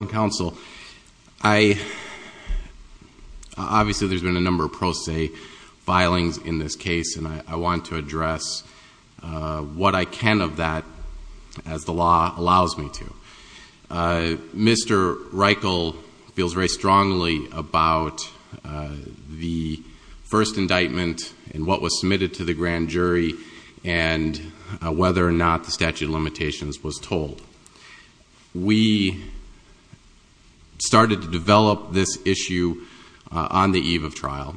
I want to address what I can of that as the law allows me to. Mr. Reichel feels very strongly about the first indictment and what was submitted to the grand jury and whether or not the statute of limitations was told. We started to develop this issue on the eve of trial.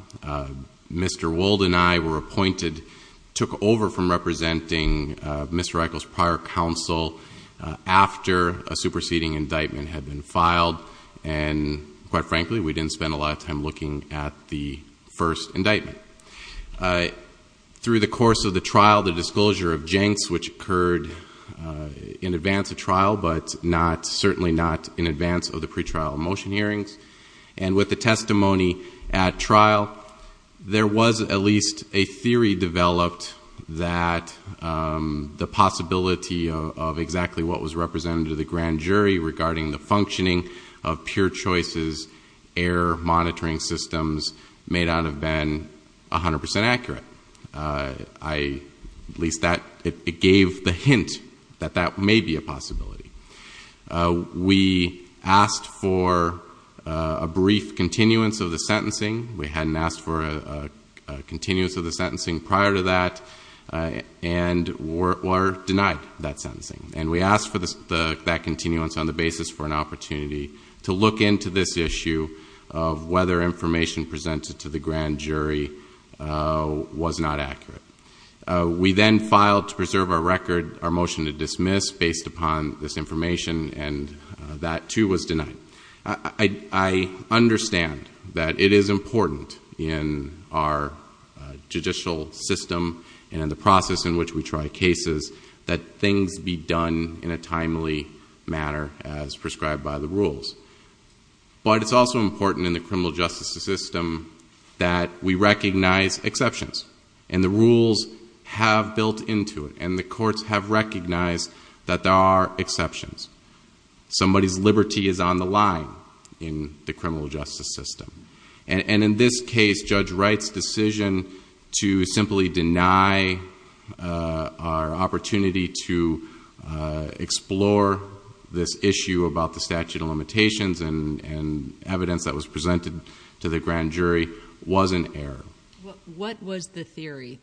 Mr. Wold and I were appointed, took over from representing Mr. Reichel's prior counsel after a superseding indictment had been filed and, quite frankly, we didn't spend a lot of time looking at the first indictment. Through the course of the trial, the disclosure of janks which occurred in advance of trial but certainly not in advance of the pretrial motion hearings, and with the testimony at trial, there was at least a theory developed that the possibility of exactly what was represented to the grand jury regarding the functioning of pure choices, error monitoring systems may not have been 100% accurate. At least it gave the hint that that may be a possibility. We asked for a brief continuance of the sentencing. We hadn't asked for a continuance of the sentencing prior to that and were denied that sentencing. And we asked for that continuance on the basis for an opportunity to look into this issue of whether information presented to the grand jury was not accurate. We then filed to preserve our record our motion to dismiss based upon this information and that too was denied. I understand that it is important in our judicial system and in the process in which we try cases that things be done in a timely manner as prescribed by the rules. But it's also important in the criminal justice system that we recognize exceptions. And the rules have built into it and the courts have recognized that there are exceptions. Somebody's liberty is on the line in the criminal justice system. And in this case, Judge Wright's decision to simply deny our opportunity to explore this issue about the statute of limitations and evidence that was presented to the grand jury was an error. What was the theory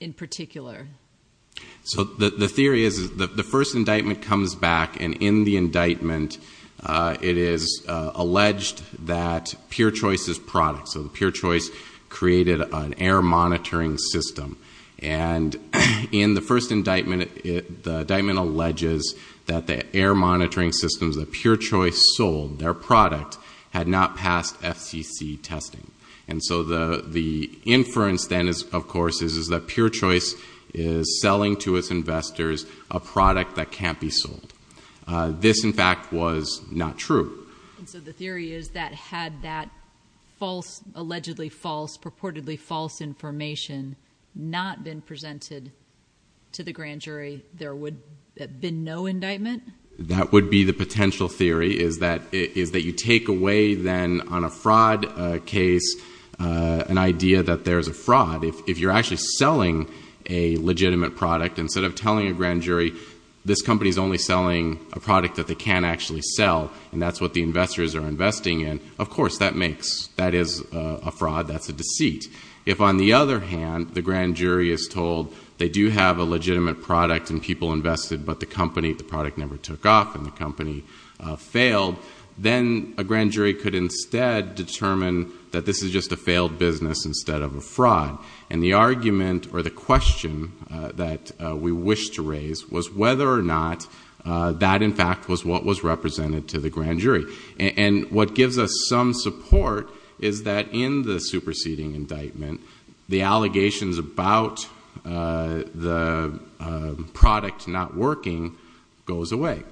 in particular? The theory is that the first indictment comes back and in the indictment it is alleged that pure choice is product. So pure choice created an error monitoring system. And in the first indictment, the indictment alleges that the error monitoring systems that pure choice sold, their product, had not passed FCC testing. And so the inference then, of course, is that pure choice is selling to its investors a product that can't be sold. This, in fact, was not true. So the theory is that had that false, allegedly false, purportedly false information not been presented to the grand jury, there would have been no indictment? That would be the potential theory is that you take away then on a fraud case an idea that there's a fraud. If you're actually selling a legitimate product, instead of telling a grand jury this company is only selling a product that they can't actually sell and that's what the investors are investing in, of course that is a fraud. That's a deceit. If, on the other hand, the grand jury is told they do have a legitimate product and people invested but the product never took off and the company failed, then a grand jury could instead determine that this is just a failed business instead of a fraud. And the argument or the question that we wish to raise was whether or not that, in fact, was what was represented to the grand jury. And what gives us some support is that in the superseding indictment, the allegations about the product not working goes away.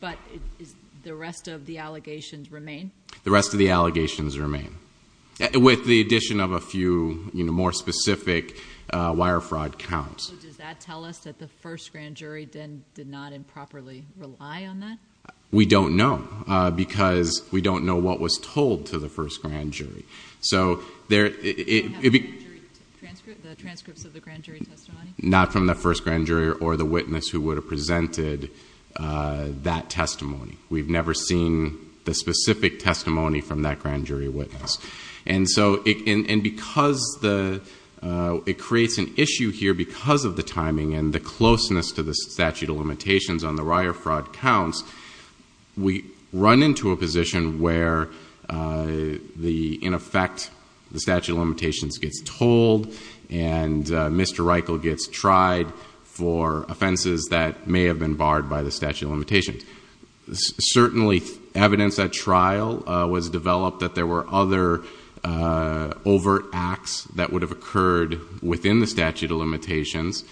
But the rest of the allegations remain? The rest of the allegations remain with the addition of a few more specific wire fraud counts. So does that tell us that the first grand jury then did not improperly rely on that? We don't know because we don't know what was told to the first grand jury. So there... The transcripts of the grand jury testimony? Not from the first grand jury or the witness who would have presented that testimony. We've never seen the specific testimony from that grand jury witness. to the statute of limitations on the wire fraud counts, we run into a position where, in effect, the statute of limitations gets told and Mr. Reichel gets tried for offenses that may have been barred by the statute of limitations. Certainly evidence at trial was developed that there were other overt acts that would have occurred within the statute of limitations.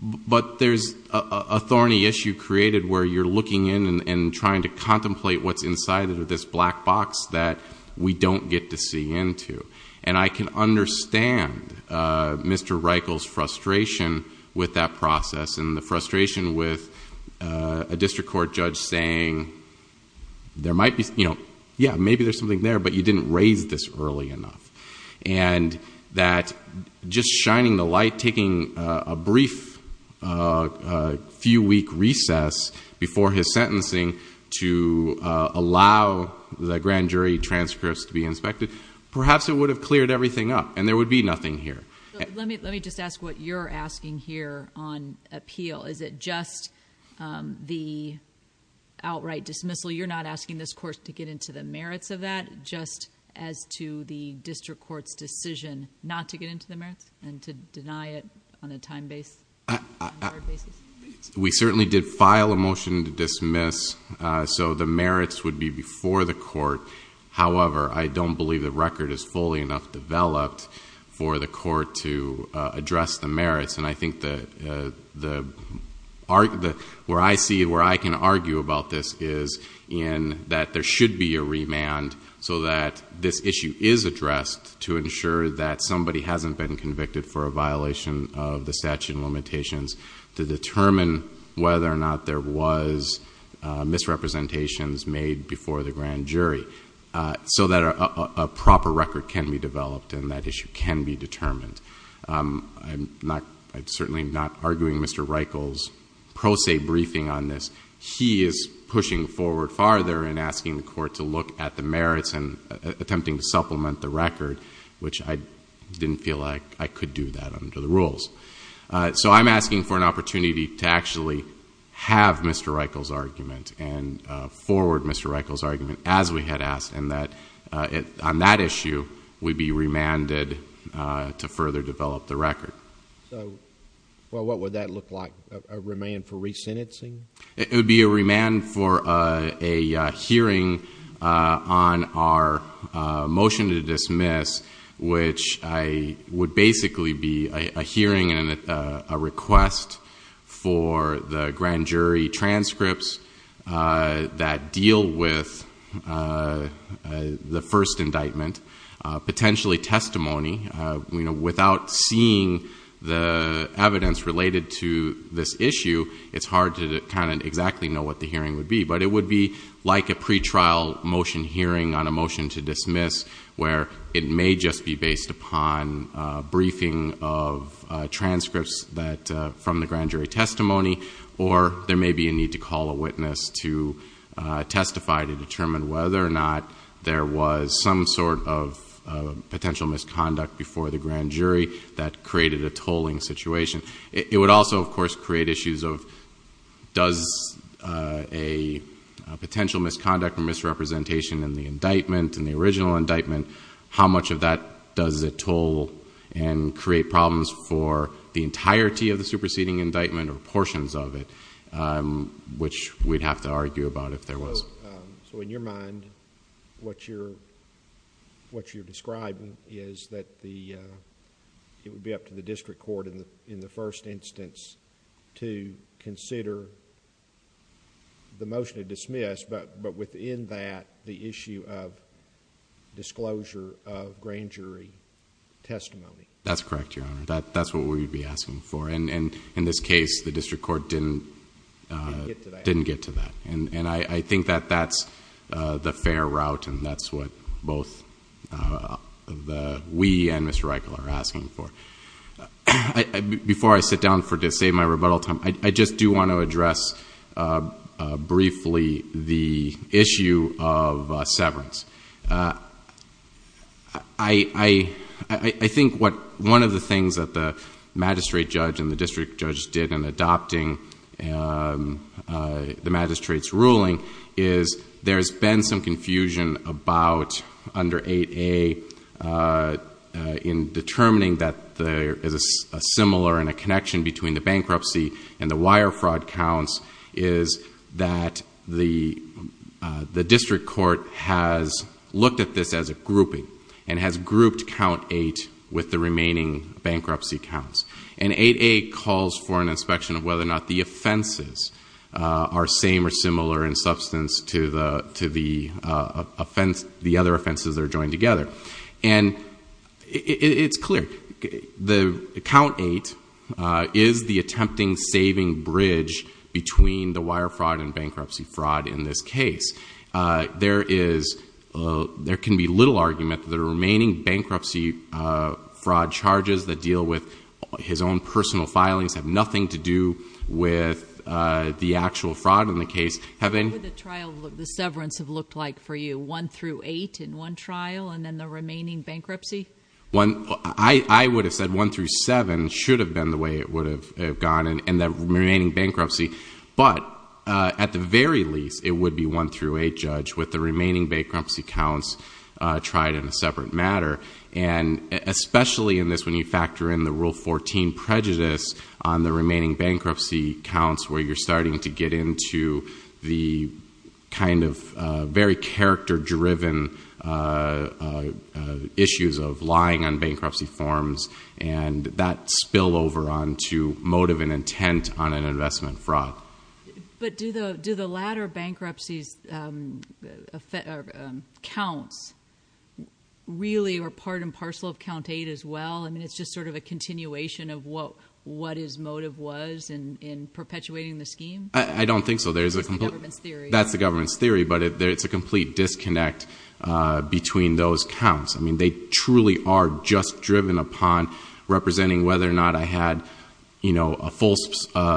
But there's a thorny issue created where you're looking in and trying to contemplate what's inside of this black box that we don't get to see into. And I can understand Mr. Reichel's frustration with that process and the frustration with a district court judge saying, yeah, maybe there's something there, but you didn't raise this early enough. And that just shining the light, taking a brief few-week recess before his sentencing to allow the grand jury transcripts to be inspected, perhaps it would have cleared everything up and there would be nothing here. Let me just ask what you're asking here on appeal. Is it just the outright dismissal? You're not asking this court to get into the merits of that, just as to the district court's decision not to get into the merits and to deny it on a time-based, standard basis? We certainly did file a motion to dismiss, so the merits would be before the court. However, I don't believe the record is fully enough developed for the court to address the merits. And I think where I can argue about this is that there should be a remand so that this issue is addressed to ensure that somebody hasn't been convicted for a violation of the statute of limitations to determine whether or not there was misrepresentations made before the grand jury so that a proper record can be developed and that issue can be determined. I'm certainly not arguing Mr. Reichel's pro se briefing on this. He is pushing forward farther and asking the court to look at the merits and attempting to supplement the record, which I didn't feel like I could do that under the rules. So I'm asking for an opportunity to actually have Mr. Reichel's argument and forward Mr. Reichel's argument as we had asked, and that on that issue we'd be remanded to further develop the record. So what would that look like, a remand for resentencing? It would be a remand for a hearing on our motion to dismiss, which would basically be a hearing and a request for the grand jury transcripts that deal with the first indictment, potentially testimony. Without seeing the evidence related to this issue, it's hard to kind of exactly know what the hearing would be. But it would be like a pretrial motion hearing on a motion to dismiss where it may just be based upon a briefing of transcripts from the grand jury testimony or there may be a need to call a witness to testify to determine whether or not there was some sort of potential misconduct before the grand jury that created a tolling situation. It would also, of course, create issues of does a potential misconduct or misrepresentation in the indictment, in the original indictment, how much of that does it toll and create problems for the entirety of the superseding indictment or portions of it, which we'd have to argue about if there was. So in your mind, what you're describing is that it would be up to the district court in the first instance to consider the motion to dismiss, but within that, the issue of disclosure of grand jury testimony. That's correct, Your Honor. That's what we'd be asking for. In this case, the district court didn't get to that. I think that that's the fair route and that's what both we and Mr. Reichle are asking for. Before I sit down to save my rebuttal time, I just do want to address briefly the issue of severance. I think one of the things that the magistrate judge and the district judge did in adopting the magistrate's ruling is there's been some confusion about under 8A in determining that there is a similar and a connection between the bankruptcy and the wire fraud counts is that the district court has looked at this as a grouping and has grouped count 8 with the remaining bankruptcy counts. And 8A calls for an inspection of whether or not the offenses are same or similar in substance to the other offenses that are joined together. And it's clear. Count 8 is the attempting saving bridge between the wire fraud and bankruptcy fraud in this case. There can be little argument that the remaining bankruptcy fraud charges that deal with his own personal filings have nothing to do with the actual fraud in the case. What would the trial of the severance have looked like for you? One through eight in one trial and then the remaining bankruptcy? I would have said one through seven should have been the way it would have gone and the remaining bankruptcy. But at the very least, it would be one through eight judge with the remaining bankruptcy counts tried in a separate matter. And especially in this when you factor in the Rule 14 prejudice on the remaining bankruptcy counts where you're starting to get into the kind of very character-driven issues of lying on bankruptcy forms and that spillover onto motive and intent on an investment fraud. But do the latter bankruptcies counts really are part and parcel of Count 8 as well? I mean, it's just sort of a continuation of what his motive was in perpetuating the scheme? I don't think so. That's the government's theory. That's the government's theory, but it's a complete disconnect between those counts. I mean, they truly are just driven upon representing whether or not I had a full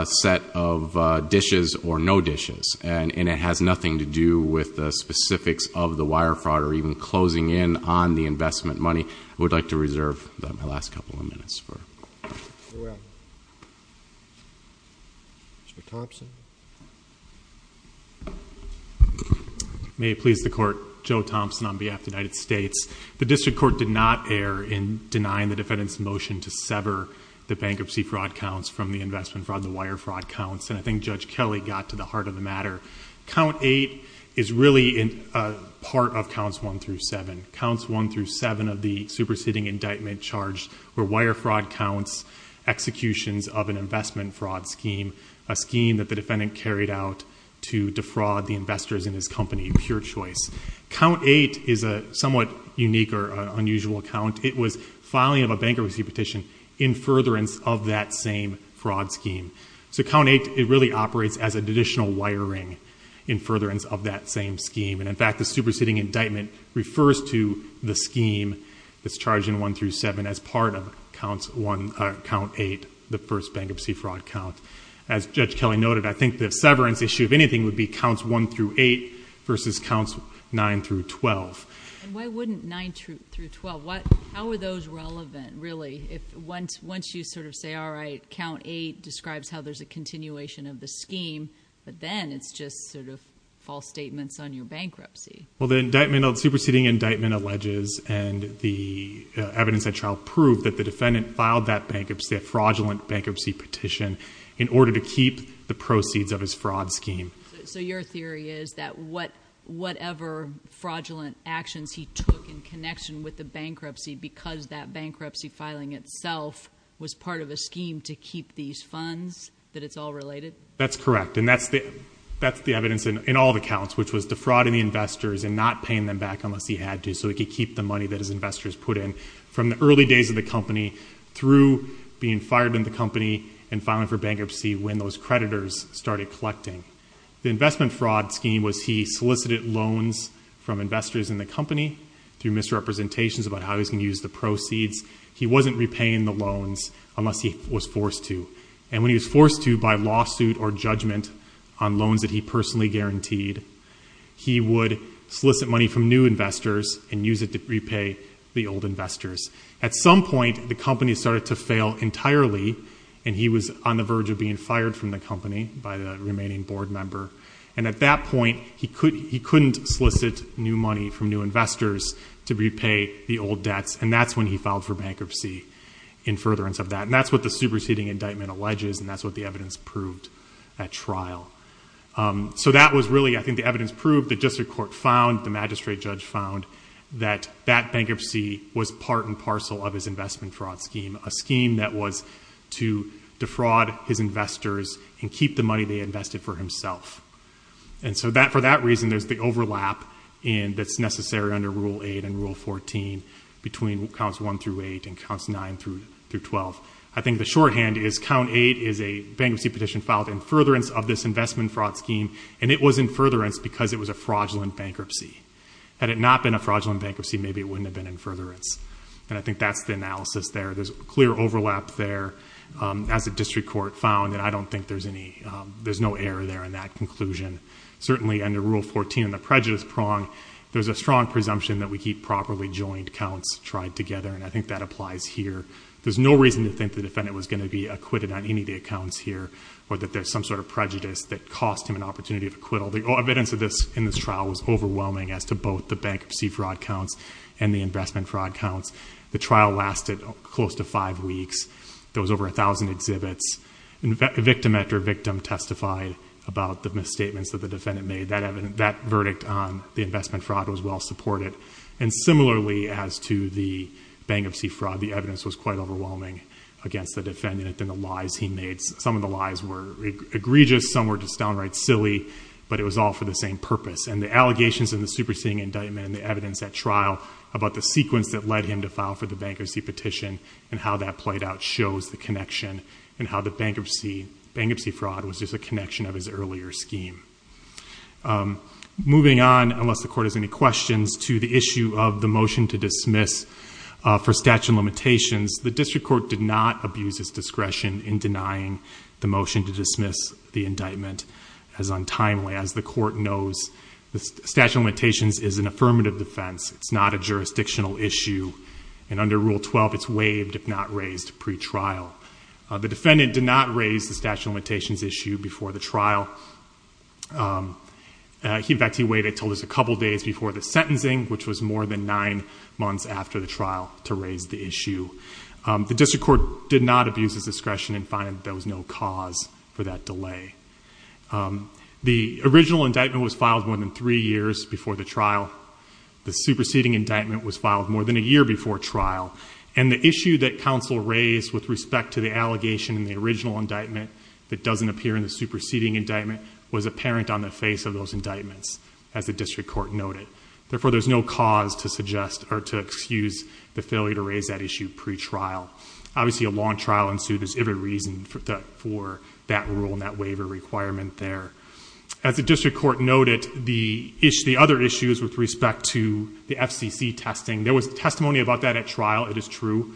set of dishes or no dishes. And it has nothing to do with the specifics of the wire fraud or even closing in on the investment money. I would like to reserve my last couple of minutes. Mr. Thompson? May it please the Court, Joe Thompson on behalf of the United States. The district court did not err in denying the defendant's motion to sever the bankruptcy fraud counts from the investment fraud and the wire fraud counts, and I think Judge Kelly got to the heart of the matter. Count 8 is really part of Counts 1 through 7. Counts 1 through 7 of the superseding indictment charged were wire fraud counts, executions of an investment fraud scheme, a scheme that the defendant carried out to defraud the investors in his company, pure choice. Count 8 is a somewhat unique or unusual count. It was filing of a bankruptcy petition in furtherance of that same fraud scheme. So Count 8, it really operates as additional wiring in furtherance of that same scheme. And, in fact, the superseding indictment refers to the scheme that's charged in 1 through 7 as part of Count 8, the first bankruptcy fraud count. As Judge Kelly noted, I think the severance issue, if anything, would be Counts 1 through 8 versus Counts 9 through 12. And why wouldn't 9 through 12? How are those relevant, really? Once you sort of say, all right, Count 8 describes how there's a continuation of the scheme, but then it's just sort of false statements on your bankruptcy. Well, the superseding indictment alleges, and the evidence at trial proved, that the defendant filed that fraudulent bankruptcy petition in order to keep the proceeds of his fraud scheme. So your theory is that whatever fraudulent actions he took in connection with the bankruptcy because that bankruptcy filing itself was part of a scheme to keep these funds, that it's all related? That's correct, and that's the evidence in all the counts, which was defrauding the investors and not paying them back unless he had to so he could keep the money that his investors put in. From the early days of the company through being fired in the company and filing for bankruptcy when those creditors started collecting. The investment fraud scheme was he solicited loans from investors in the company through misrepresentations about how he was going to use the proceeds. He wasn't repaying the loans unless he was forced to. And when he was forced to by lawsuit or judgment on loans that he personally guaranteed, he would solicit money from new investors and use it to repay the old investors. At some point the company started to fail entirely and he was on the verge of being fired from the company by the remaining board member. And at that point he couldn't solicit new money from new investors to repay the old debts and that's when he filed for bankruptcy in furtherance of that. And that's what the superseding indictment alleges and that's what the evidence proved at trial. So that was really, I think, the evidence proved, the district court found, the magistrate judge found, that that bankruptcy was part and parcel of his investment fraud scheme. A scheme that was to defraud his investors and keep the money they invested for himself. And so for that reason there's the overlap that's necessary under Rule 8 and Rule 14 between Counts 1 through 8 and Counts 9 through 12. I think the shorthand is Count 8 is a bankruptcy petition filed in furtherance of this investment fraud scheme and it was in furtherance because it was a fraudulent bankruptcy. Had it not been a fraudulent bankruptcy, maybe it wouldn't have been in furtherance. And I think that's the analysis there. There's clear overlap there as the district court found and I don't think there's any, there's no error there in that conclusion. Certainly under Rule 14 in the prejudice prong, there's a strong presumption that we keep properly joined counts tried together and I think that applies here. There's no reason to think the defendant was going to be acquitted on any of the accounts here or that there's some sort of prejudice that cost him an opportunity of acquittal. The evidence in this trial was overwhelming as to both the bankruptcy fraud counts and the investment fraud counts. The trial lasted close to five weeks. There was over a thousand exhibits. Victim after victim testified about the misstatements that the defendant made. That verdict on the investment fraud was well supported. And similarly as to the bankruptcy fraud, the evidence was quite overwhelming against the defendant and the lies he made. Some of the lies were egregious, some were just downright silly, but it was all for the same purpose. And the allegations in the superseding indictment and the evidence at trial about the sequence that led him to file for the bankruptcy petition and how that played out shows the connection and how the bankruptcy fraud was just a connection of his earlier scheme. Moving on, unless the court has any questions, to the issue of the motion to dismiss for statute of limitations. The district court did not abuse its discretion in denying the motion to dismiss the indictment as untimely. As the court knows, the statute of limitations is an affirmative defense. It's not a jurisdictional issue. And under Rule 12, it's waived if not raised pre-trial. The defendant did not raise the statute of limitations issue before the trial. In fact, he waited until just a couple days before the sentencing, which was more than nine months after the trial, to raise the issue. The district court did not abuse its discretion in finding that there was no cause for that delay. The original indictment was filed more than three years before the trial. The superseding indictment was filed more than a year before trial. And the issue that counsel raised with respect to the allegation in the original indictment that doesn't appear in the superseding indictment was apparent on the face of those indictments, as the district court noted. Therefore, there's no cause to excuse the failure to raise that issue pre-trial. Obviously, a long trial ensued. There's every reason for that rule and that waiver requirement there. As the district court noted, the other issues with respect to the FCC testing, there was testimony about that at trial. It is true.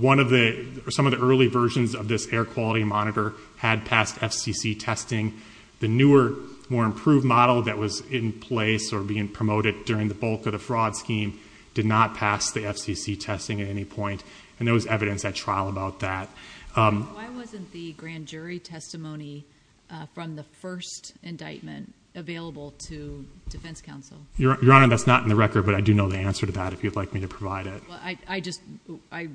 Some of the early versions of this air quality monitor had passed FCC testing. The newer, more improved model that was in place or being promoted during the bulk of the fraud scheme did not pass the FCC testing at any point. And there was evidence at trial about that. Why wasn't the grand jury testimony from the first indictment available to defense counsel? Your Honor, that's not in the record, but I do know the answer to that if you'd like me to provide it. I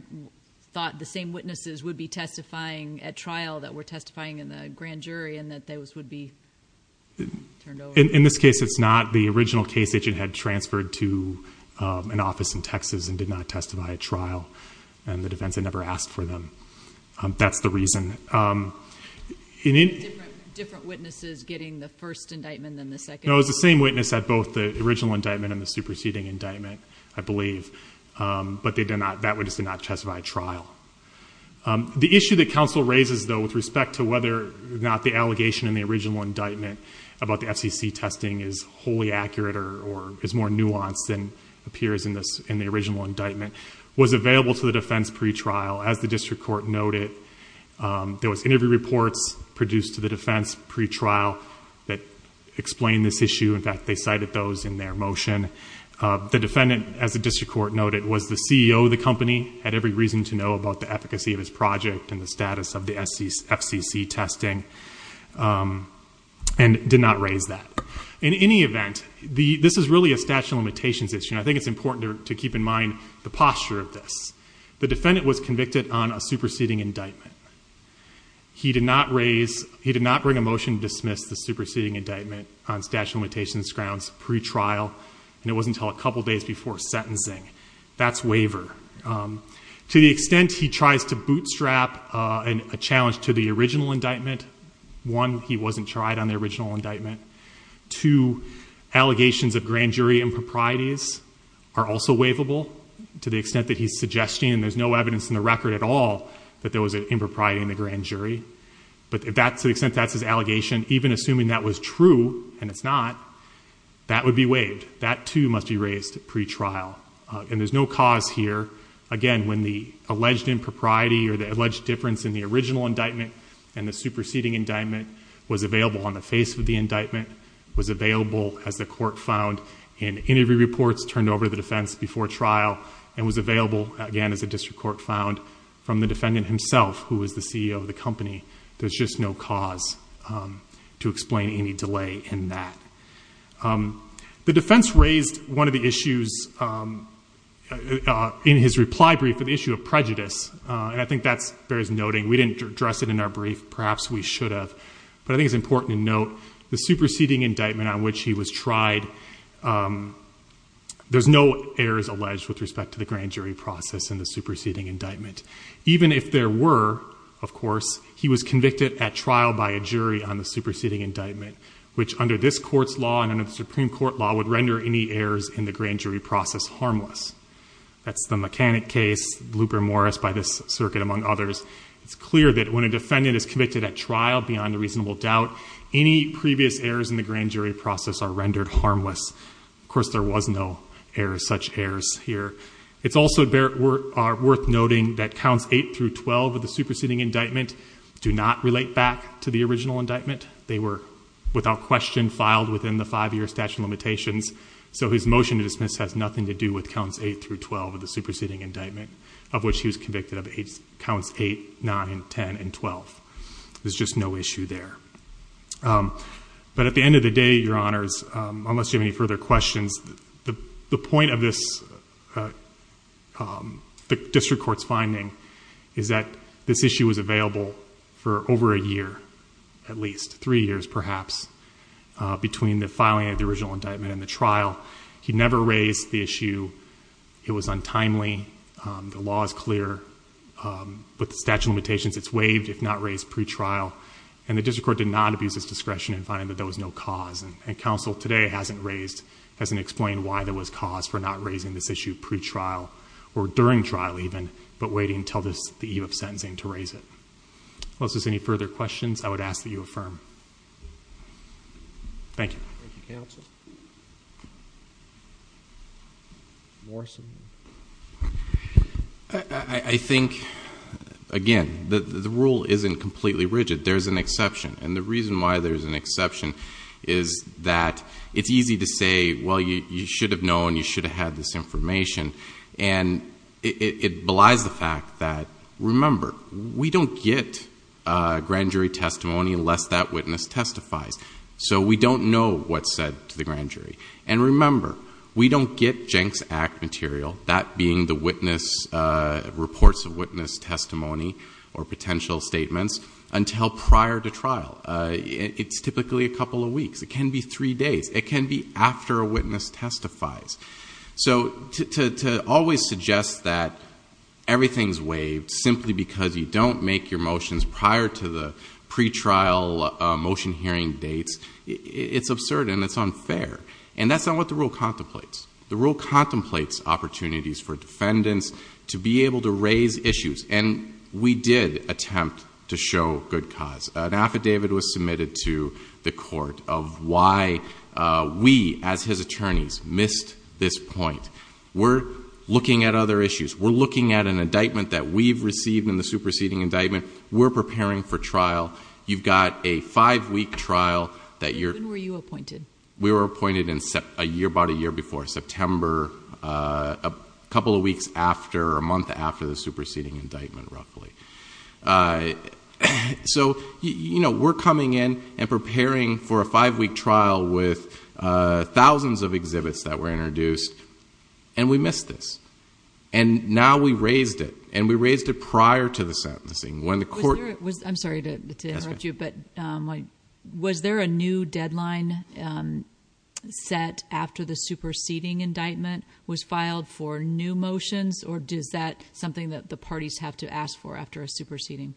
thought the same witnesses would be testifying at trial that were testifying in the grand jury and that those would be turned over. In this case, it's not. The original case agent had transferred to an office in Texas and did not testify at trial, and the defense had never asked for them. That's the reason. Different witnesses getting the first indictment than the second. It was the same witness at both the original indictment and the superseding indictment, I believe, but that witness did not testify at trial. The issue that counsel raises, though, with respect to whether or not the allegation in the original indictment about the FCC testing is wholly accurate or is more nuanced than appears in the original indictment, was available to the defense pretrial. As the district court noted, there was interview reports produced to the defense pretrial that explained this issue. In fact, they cited those in their motion. The defendant, as the district court noted, was the CEO of the company, had every reason to know about the efficacy of his project and the status of the FCC testing, and did not raise that. In any event, this is really a statute of limitations issue, and I think it's important to keep in mind the posture of this. The defendant was convicted on a superseding indictment. He did not bring a motion to dismiss the superseding indictment on statute of limitations grounds pretrial, and it wasn't until a couple days before sentencing. That's waiver. To the extent he tries to bootstrap a challenge to the original indictment, one, he wasn't tried on the original indictment. Two, allegations of grand jury improprieties are also waivable, to the extent that he's suggesting, and there's no evidence in the record at all that there was an impropriety in the grand jury. But to the extent that's his allegation, even assuming that was true, and it's not, that would be waived. That, too, must be raised pretrial. And there's no cause here. Again, when the alleged impropriety or the alleged difference in the original indictment and the superseding indictment was available on the face of the indictment, was available, as the court found in interview reports, turned over to the defense before trial, and was available, again, as the district court found, from the defendant himself, who was the CEO of the company. There's just no cause to explain any delay in that. The defense raised one of the issues in his reply brief, the issue of prejudice. And I think that bears noting. We didn't address it in our brief. Perhaps we should have. But I think it's important to note the superseding indictment on which he was tried, there's no errors alleged with respect to the grand jury process and the superseding indictment. Even if there were, of course, he was convicted at trial by a jury on the superseding indictment, which under this court's law and under the Supreme Court law would render any errors in the grand jury process harmless. That's the mechanic case, Luper-Morris, by this circuit, among others. It's clear that when a defendant is convicted at trial, beyond a reasonable doubt, any previous errors in the grand jury process are rendered harmless. Of course, there was no such errors here. It's also worth noting that counts 8 through 12 of the superseding indictment do not relate back to the original indictment. They were, without question, filed within the five-year statute of limitations, so his motion to dismiss has nothing to do with counts 8 through 12 of the superseding indictment of which he was convicted of counts 8, 9, 10, and 12. There's just no issue there. But at the end of the day, Your Honors, unless you have any further questions, the point of this district court's finding is that this issue was available for over a year, at least, three years perhaps, between the filing of the original indictment and the trial. He never raised the issue. It was untimely. The law is clear. With the statute of limitations, it's waived if not raised pretrial, and the district court did not abuse its discretion in finding that there was no cause, and counsel today hasn't raised, hasn't explained why there was cause for not raising this issue pretrial or during trial even, but waiting until the eve of sentencing to raise it. Unless there's any further questions, I would ask that you affirm. Thank you. Thank you, counsel. Morrison. I think, again, the rule isn't completely rigid. There's an exception, and the reason why there's an exception is that it's easy to say, well, you should have known, you should have had this information, and it belies the fact that, remember, we don't get grand jury testimony unless that witness testifies, so we don't know what's said to the grand jury. And remember, we don't get Jenks Act material, that being the reports of witness testimony or potential statements until prior to trial. It's typically a couple of weeks. It can be three days. It can be after a witness testifies. So to always suggest that everything's waived simply because you don't make your motions prior to the pretrial motion hearing dates, it's absurd and it's unfair, and that's not what the rule contemplates. The rule contemplates opportunities for defendants to be able to raise issues, and we did attempt to show good cause. An affidavit was submitted to the court of why we, as his attorneys, missed this point. We're looking at other issues. We're looking at an indictment that we've received in the superseding indictment. We're preparing for trial. You've got a five-week trial that you're... When were you appointed? We were appointed about a year before, September, a couple of weeks after, or a month after the superseding indictment, roughly. So, you know, we're coming in and preparing for a five-week trial with thousands of exhibits that were introduced, and we missed this. And now we raised it, and we raised it prior to the sentencing. When the court... I'm sorry to interrupt you, but was there a new deadline set after the superseding indictment was filed for new motions, or is that something that the parties have to ask for after a superseding?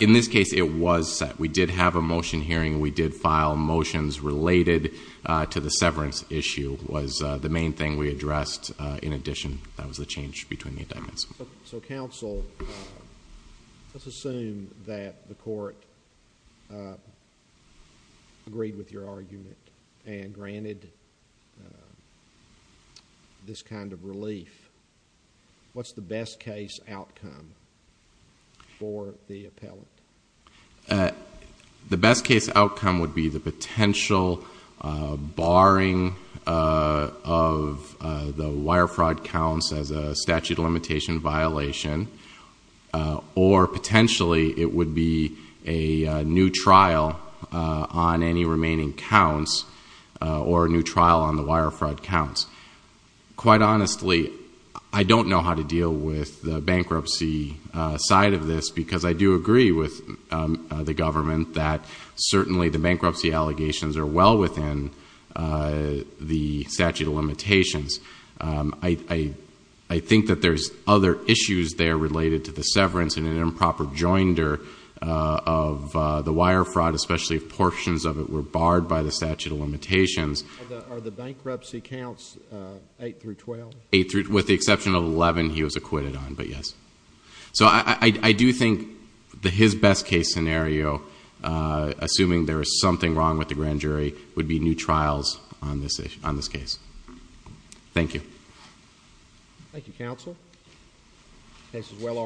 In this case, it was set. We did have a motion hearing. We did file motions related to the severance issue was the main thing we addressed. In addition, that was the change between the indictments. So, counsel, let's assume that the court agreed with your argument and granted this kind of relief. What's the best-case outcome for the appellant? The best-case outcome would be the potential barring of the wire fraud counts as a statute of limitation violation, or potentially it would be a new trial on any remaining counts or a new trial on the wire fraud counts. Quite honestly, I don't know how to deal with the bankruptcy side of this, because I do agree with the government that certainly the bankruptcy allegations are well within the statute of limitations. I think that there's other issues there related to the severance and an improper joinder of the wire fraud, especially if portions of it were barred by the statute of limitations. Are the bankruptcy counts 8 through 12? With the exception of 11, he was acquitted on, but yes. So I do think his best-case scenario, assuming there is something wrong with the grand jury, would be new trials on this case. Thank you. Thank you, counsel. This case is well argued.